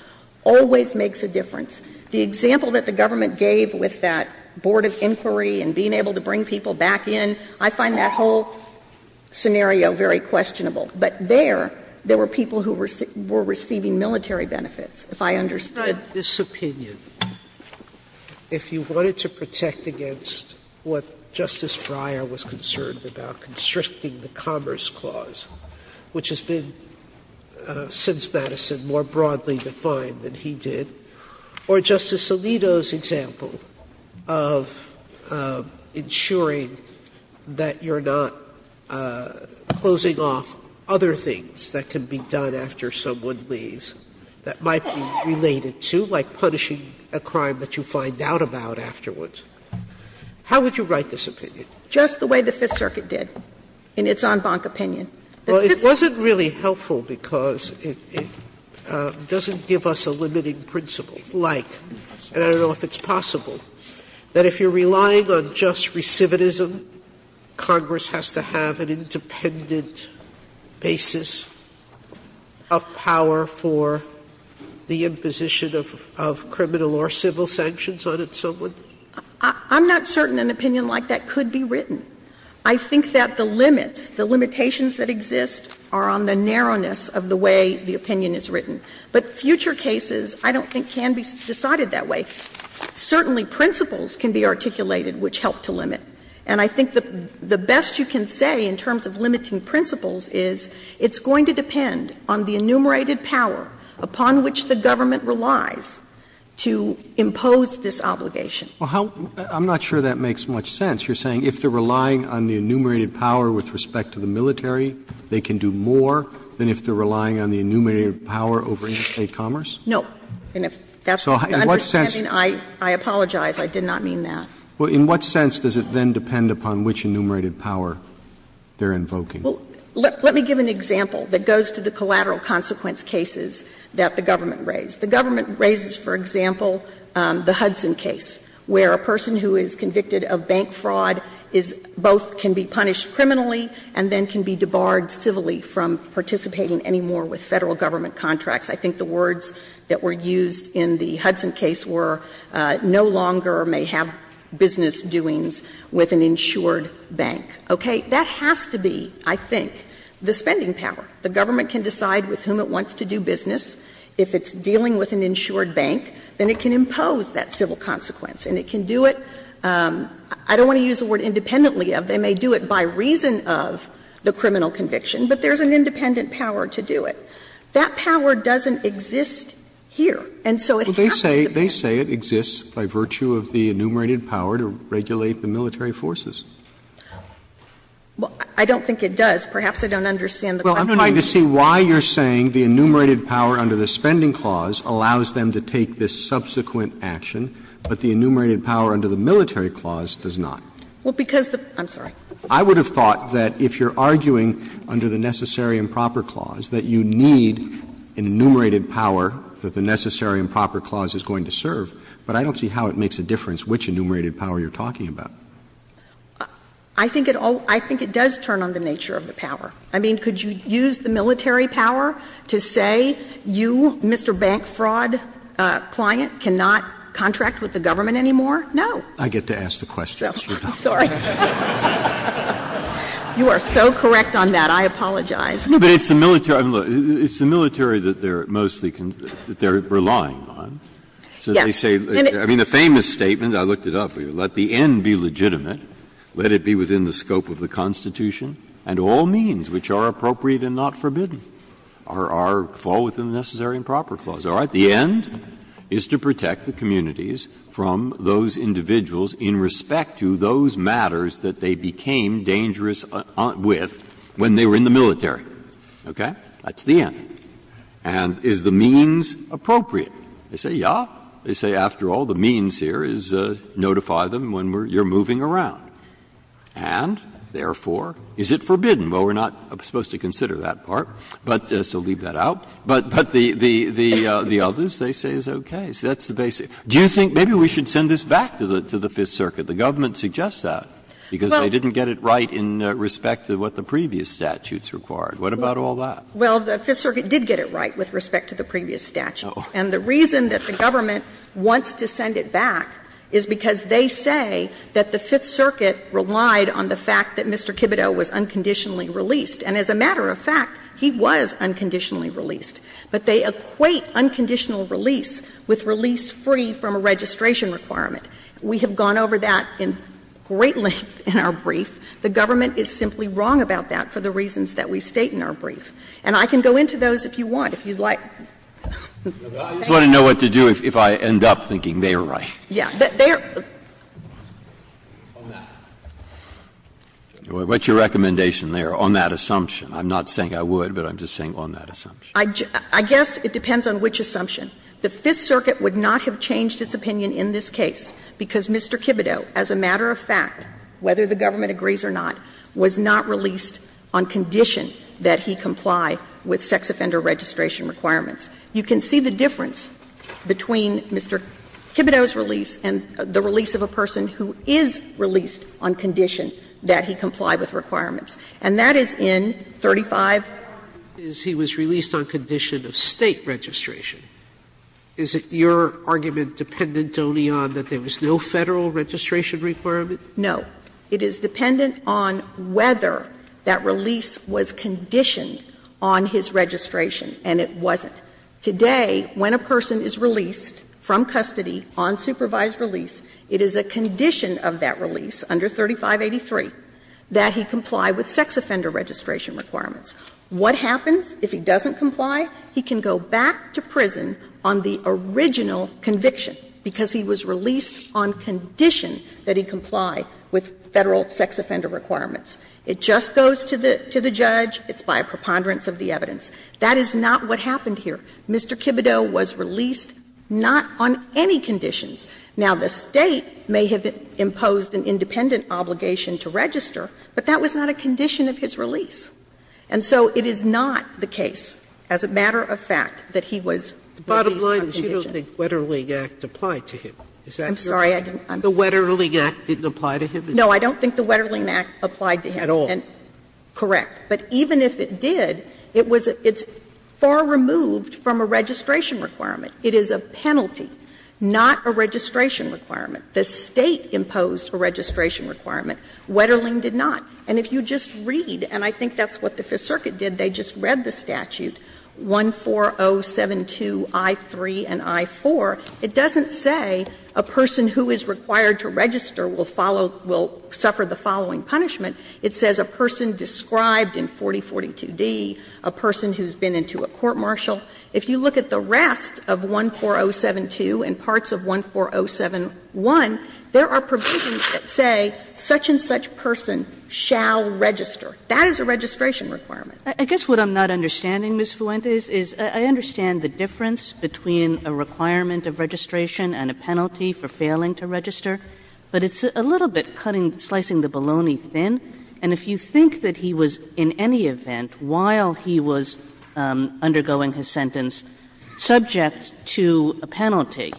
always makes a difference. The example that the government gave with that board of inquiry and being able to bring people back in, I find that whole scenario very questionable. But there, there were people who were receiving military benefits, if I understood it. Sotomayor Sotomayor, if you wanted to protect against what Justice Breyer was concerned about, constricting the Commerce Clause, which has been, since Madison, more broadly defined than he did, or Justice Alito's example of ensuring that you're not closing off other things that can be done after someone leaves, that might be related to, like punishing a crime that you find out about afterwards. How would you write this opinion? Just the way the Fifth Circuit did, in its en banc opinion. Well, it wasn't really helpful because it doesn't give us a limiting principle. Like, and I don't know if it's possible, that if you're relying on just recidivism, Congress has to have an independent basis of power for the imposition of criminal or civil sanctions on someone? I'm not certain an opinion like that could be written. I think that the limits, the limitations that exist are on the narrowness of the way the opinion is written. But future cases, I don't think, can be decided that way. Certainly, principles can be articulated which help to limit. And I think the best you can say in terms of limiting principles is it's going to depend on the enumerated power upon which the government relies to impose this obligation. Well, how — I'm not sure that makes much sense. You're saying if they're relying on the enumerated power with respect to the military, they can do more than if they're relying on the enumerated power over interstate commerce? No. And if that's what you're understanding, I apologize. I did not mean that. Well, in what sense does it then depend upon which enumerated power they're invoking? Well, let me give an example that goes to the collateral consequence cases that the government raised. The government raises, for example, the Hudson case, where a person who is convicted of bank fraud is — both can be punished criminally and then can be debarred civilly from participating anymore with Federal government contracts. I think the words that were used in the Hudson case were no longer may have business doings with an insured bank. Okay? That has to be, I think, the spending power. The government can decide with whom it wants to do business. If it's dealing with an insured bank, then it can impose that civil consequence and it can do it. I don't want to use the word independently of. They may do it by reason of the criminal conviction, but there's an independent power to do it. That power doesn't exist here. And so it has to be. Roberts. They say it exists by virtue of the enumerated power to regulate the military forces. Well, I don't think it does. Perhaps I don't understand the question. Well, I'm trying to see why you're saying the enumerated power under the spending clause allows them to take this subsequent action, but the enumerated power under the military clause does not. Well, because the — I'm sorry. I would have thought that if you're arguing under the necessary and proper clause that you need an enumerated power that the necessary and proper clause is going to serve, but I don't see how it makes a difference which enumerated power you're talking about. I think it does turn on the nature of the power. I mean, could you use the military power to say you, Mr. Bank Fraud client, cannot contract with the government anymore? No. I get to ask the question. I'm sorry. You are so correct on that. I apologize. Breyer. No, but it's the military. It's the military that they're mostly — that they're relying on. Yes. So they say — I mean, the famous statement, I looked it up for you, let the end be legitimate, let it be within the scope of the Constitution, and all means which are appropriate and not forbidden are fall within the necessary and proper clause. All right? The end is to protect the communities from those individuals in respect to those matters that they became dangerous with when they were in the military. Okay? That's the end. And is the means appropriate? They say, yes. They say, after all, the means here is notify them when you're moving around. And, therefore, is it forbidden? Well, we're not supposed to consider that part, so leave that out. But the others, they say, is okay. So that's the basic. Do you think maybe we should send this back to the Fifth Circuit? The government suggests that, because they didn't get it right in respect to what the previous statutes required. What about all that? Well, the Fifth Circuit did get it right with respect to the previous statutes. And the reason that the government wants to send it back is because they say that the Fifth Circuit relied on the fact that Mr. Kibito was unconditionally released. And as a matter of fact, he was unconditionally released. But they equate unconditional release with release free from a registration requirement. We have gone over that in great length in our brief. The government is simply wrong about that for the reasons that we state in our brief. And I can go into those if you want, if you'd like. Breyer, I just want to know what to do if I end up thinking they are right. Yeah. They are. What's your recommendation there on that assumption? I'm not saying I would, but I'm just saying on that assumption. I guess it depends on which assumption. The Fifth Circuit would not have changed its opinion in this case. Because Mr. Kibito, as a matter of fact, whether the government agrees or not, was not released on condition that he comply with sex offender registration requirements. You can see the difference between Mr. Kibito's release and the release of a person who is released on condition that he comply with requirements. And that is in 35. He was released on condition of State registration. Is it your argument dependent only on that there was no Federal registration requirement? No. It is dependent on whether that release was conditioned on his registration, and it wasn't. Today, when a person is released from custody on supervised release, it is a condition of that release under 3583 that he comply with sex offender registration requirements. What happens if he doesn't comply? He can go back to prison on the original conviction, because he was released on condition that he comply with Federal sex offender requirements. It just goes to the judge. It's by a preponderance of the evidence. That is not what happened here. Mr. Kibito was released not on any conditions. Now, the State may have imposed an independent obligation to register, but that was not a condition of his release. And so it is not the case, as a matter of fact, that he was released on condition. Sotomayor, you don't think Wetterling Act applied to him. Is that your argument? I'm sorry, I didn't understand. The Wetterling Act didn't apply to him? No, I don't think the Wetterling Act applied to him. At all? Correct. But even if it did, it was at its far removed from a registration requirement. It is a penalty, not a registration requirement. The State imposed a registration requirement. Wetterling did not. And if you just read, and I think that's what the Fifth Circuit did, they just read the statute, 14072 I-3 and I-4, it doesn't say a person who is required to register will follow, will suffer the following punishment. It says a person described in 4042d, a person who has been into a court-martial. If you look at the rest of 14072 and parts of 14071, there are provisions that say such and such person shall register. That is a registration requirement. I guess what I'm not understanding, Ms. Fuentes, is I understand the difference between a requirement of registration and a penalty for failing to register, but it's a little bit cutting, slicing the bologna thin. And if you think that he was, in any event, while he was undergoing his sentence subject to a penalty,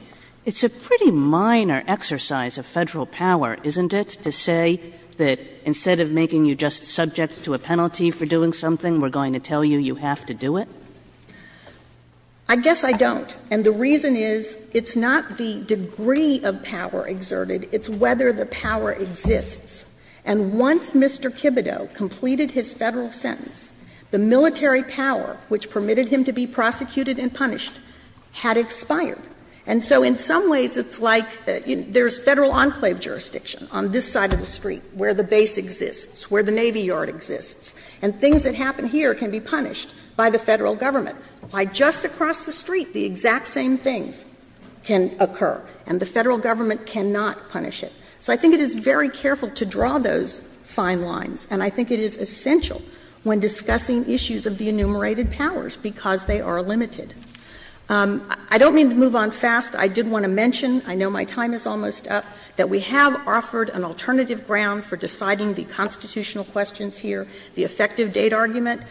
it's a pretty minor exercise of Federal power, isn't it, to say that instead of making you just subject to a penalty for doing something, we're going to tell you you have to do it? I guess I don't. And the reason is it's not the degree of power exerted, it's whether the power exists. And once Mr. Kibito completed his Federal sentence, the military power which permitted him to be prosecuted and punished had expired. And so in some ways it's like there's Federal enclave jurisdiction on this side of the street where the base exists, where the Navy Yard exists, and things that happen here can be punished by the Federal Government. By just across the street, the exact same things can occur, and the Federal Government cannot punish it. So I think it is very careful to draw those fine lines, and I think it is essential when discussing issues of the enumerated powers because they are limited. I don't mean to move on fast. I did want to mention, I know my time is almost up, that we have offered an alternative ground for deciding the constitutional questions here, the effective date argument.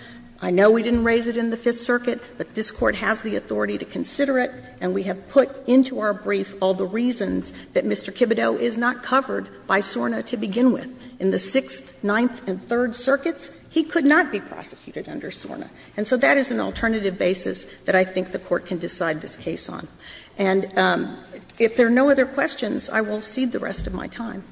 I know we didn't raise it in the Fifth Circuit, but this Court has the authority to consider it, and we have put into our brief all the reasons that Mr. Kibito is not covered by SORNA to begin with. In the Sixth, Ninth, and Third Circuits, he could not be prosecuted under SORNA. And so that is an alternative basis that I think the Court can decide this case on. And if there are no other questions, I will cede the rest of my time.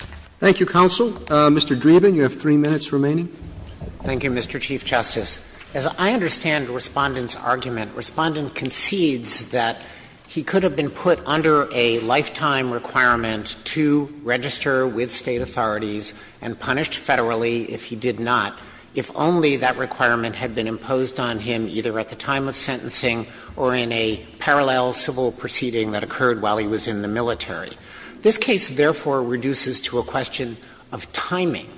Roberts Thank you, counsel. Mr. Dreeben, you have three minutes remaining. Dreeben Thank you, Mr. Chief Justice. As I understand Respondent's argument, Respondent concedes that he could have been put under a lifetime requirement to register with State authorities and punished federally if he did not, if only that requirement had been imposed on him either at the time of sentencing or in a parallel civil proceeding that occurred while he was in the military. This case, therefore, reduces to a question of timing.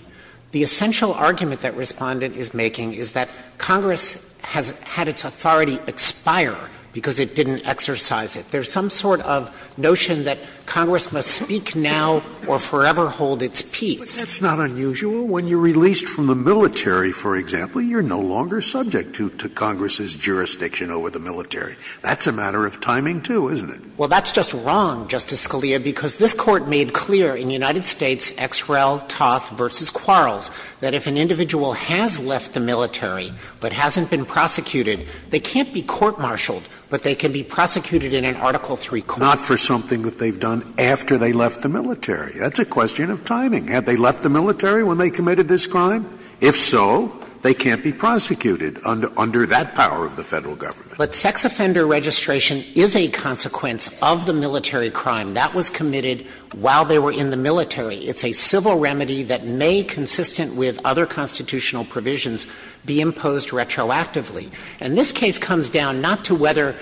The essential argument that Respondent is making is that Congress has had its authority expire because it didn't exercise it. There is some sort of notion that Congress must speak now or forever hold its peace. Scalia That's not unusual. When you're released from the military, for example, you're no longer subject to Congress's jurisdiction over the military. That's a matter of timing, too, isn't it? Dreeben Well, that's just wrong, Justice Scalia, because this Court made clear in United States X. Rel. Toth v. Quarles that if an individual has left the military but hasn't been prosecuted, they can't be court-martialed, but they can be prosecuted in an Article III court. Scalia Not for something that they've done after they left the military. That's a question of timing. Had they left the military when they committed this crime? If so, they can't be prosecuted under that power of the Federal Government. Dreeben But sex offender registration is a consequence of the military crime that was committed while they were in the military. It's a civil remedy that may, consistent with other constitutional provisions, be imposed retroactively. And this case comes down not to whether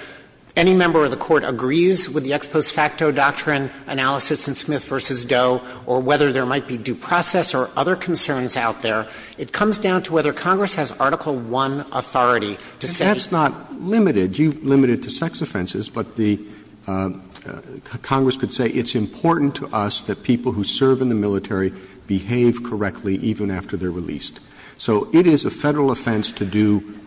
any member of the Court agrees with the ex post or whether there might be due process or other concerns out there. It comes down to whether Congress has Article I authority to say. Roberts And that's not limited. You've limited it to sex offenses, but the Congress could say it's important to us that people who serve in the military behave correctly even after they're released. So it is a Federal offense to do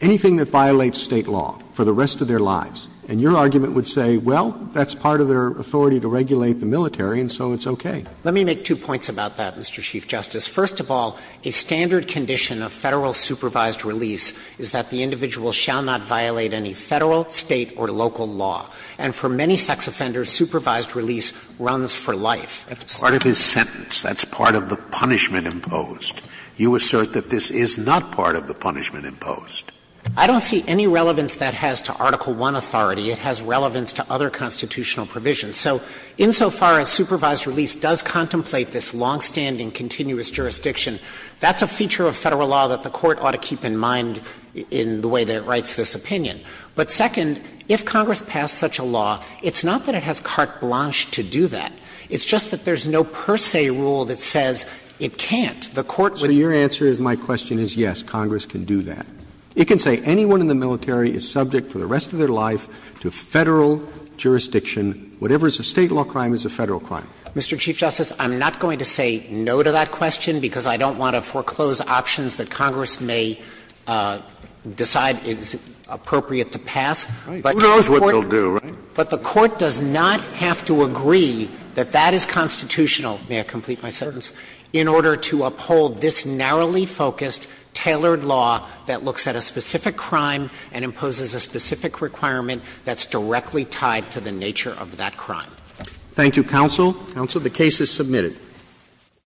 anything that violates State law for the rest of their lives. And your argument would say, well, that's part of their authority to regulate the military, and so it's okay. Dreeben Let me make two points about that, Mr. Chief Justice. First of all, a standard condition of Federal supervised release is that the individual shall not violate any Federal, State, or local law. And for many sex offenders, supervised release runs for life. Scalia Part of his sentence, that's part of the punishment imposed. You assert that this is not part of the punishment imposed. Dreeben I don't see any relevance that has to Article I authority. It has relevance to other constitutional provisions. So insofar as supervised release does contemplate this longstanding, continuous jurisdiction, that's a feature of Federal law that the Court ought to keep in mind in the way that it writes this opinion. But second, if Congress passed such a law, it's not that it has carte blanche to do that. It's just that there's no per se rule that says it can't. The Court would Roberts So your answer to my question is yes, Congress can do that. It can say anyone in the military is subject for the rest of their life to Federal jurisdiction. Whatever is a State law crime is a Federal crime. Dreeben Mr. Chief Justice, I'm not going to say no to that question because I don't want to foreclose options that Congress may decide is appropriate to pass. But the Court does not have to agree that that is constitutional, may I complete my sentence, in order to uphold this narrowly focused, tailored law that looks at a specific requirement that's directly tied to the nature of that crime. Roberts Thank you, counsel. Counsel, the case is submitted.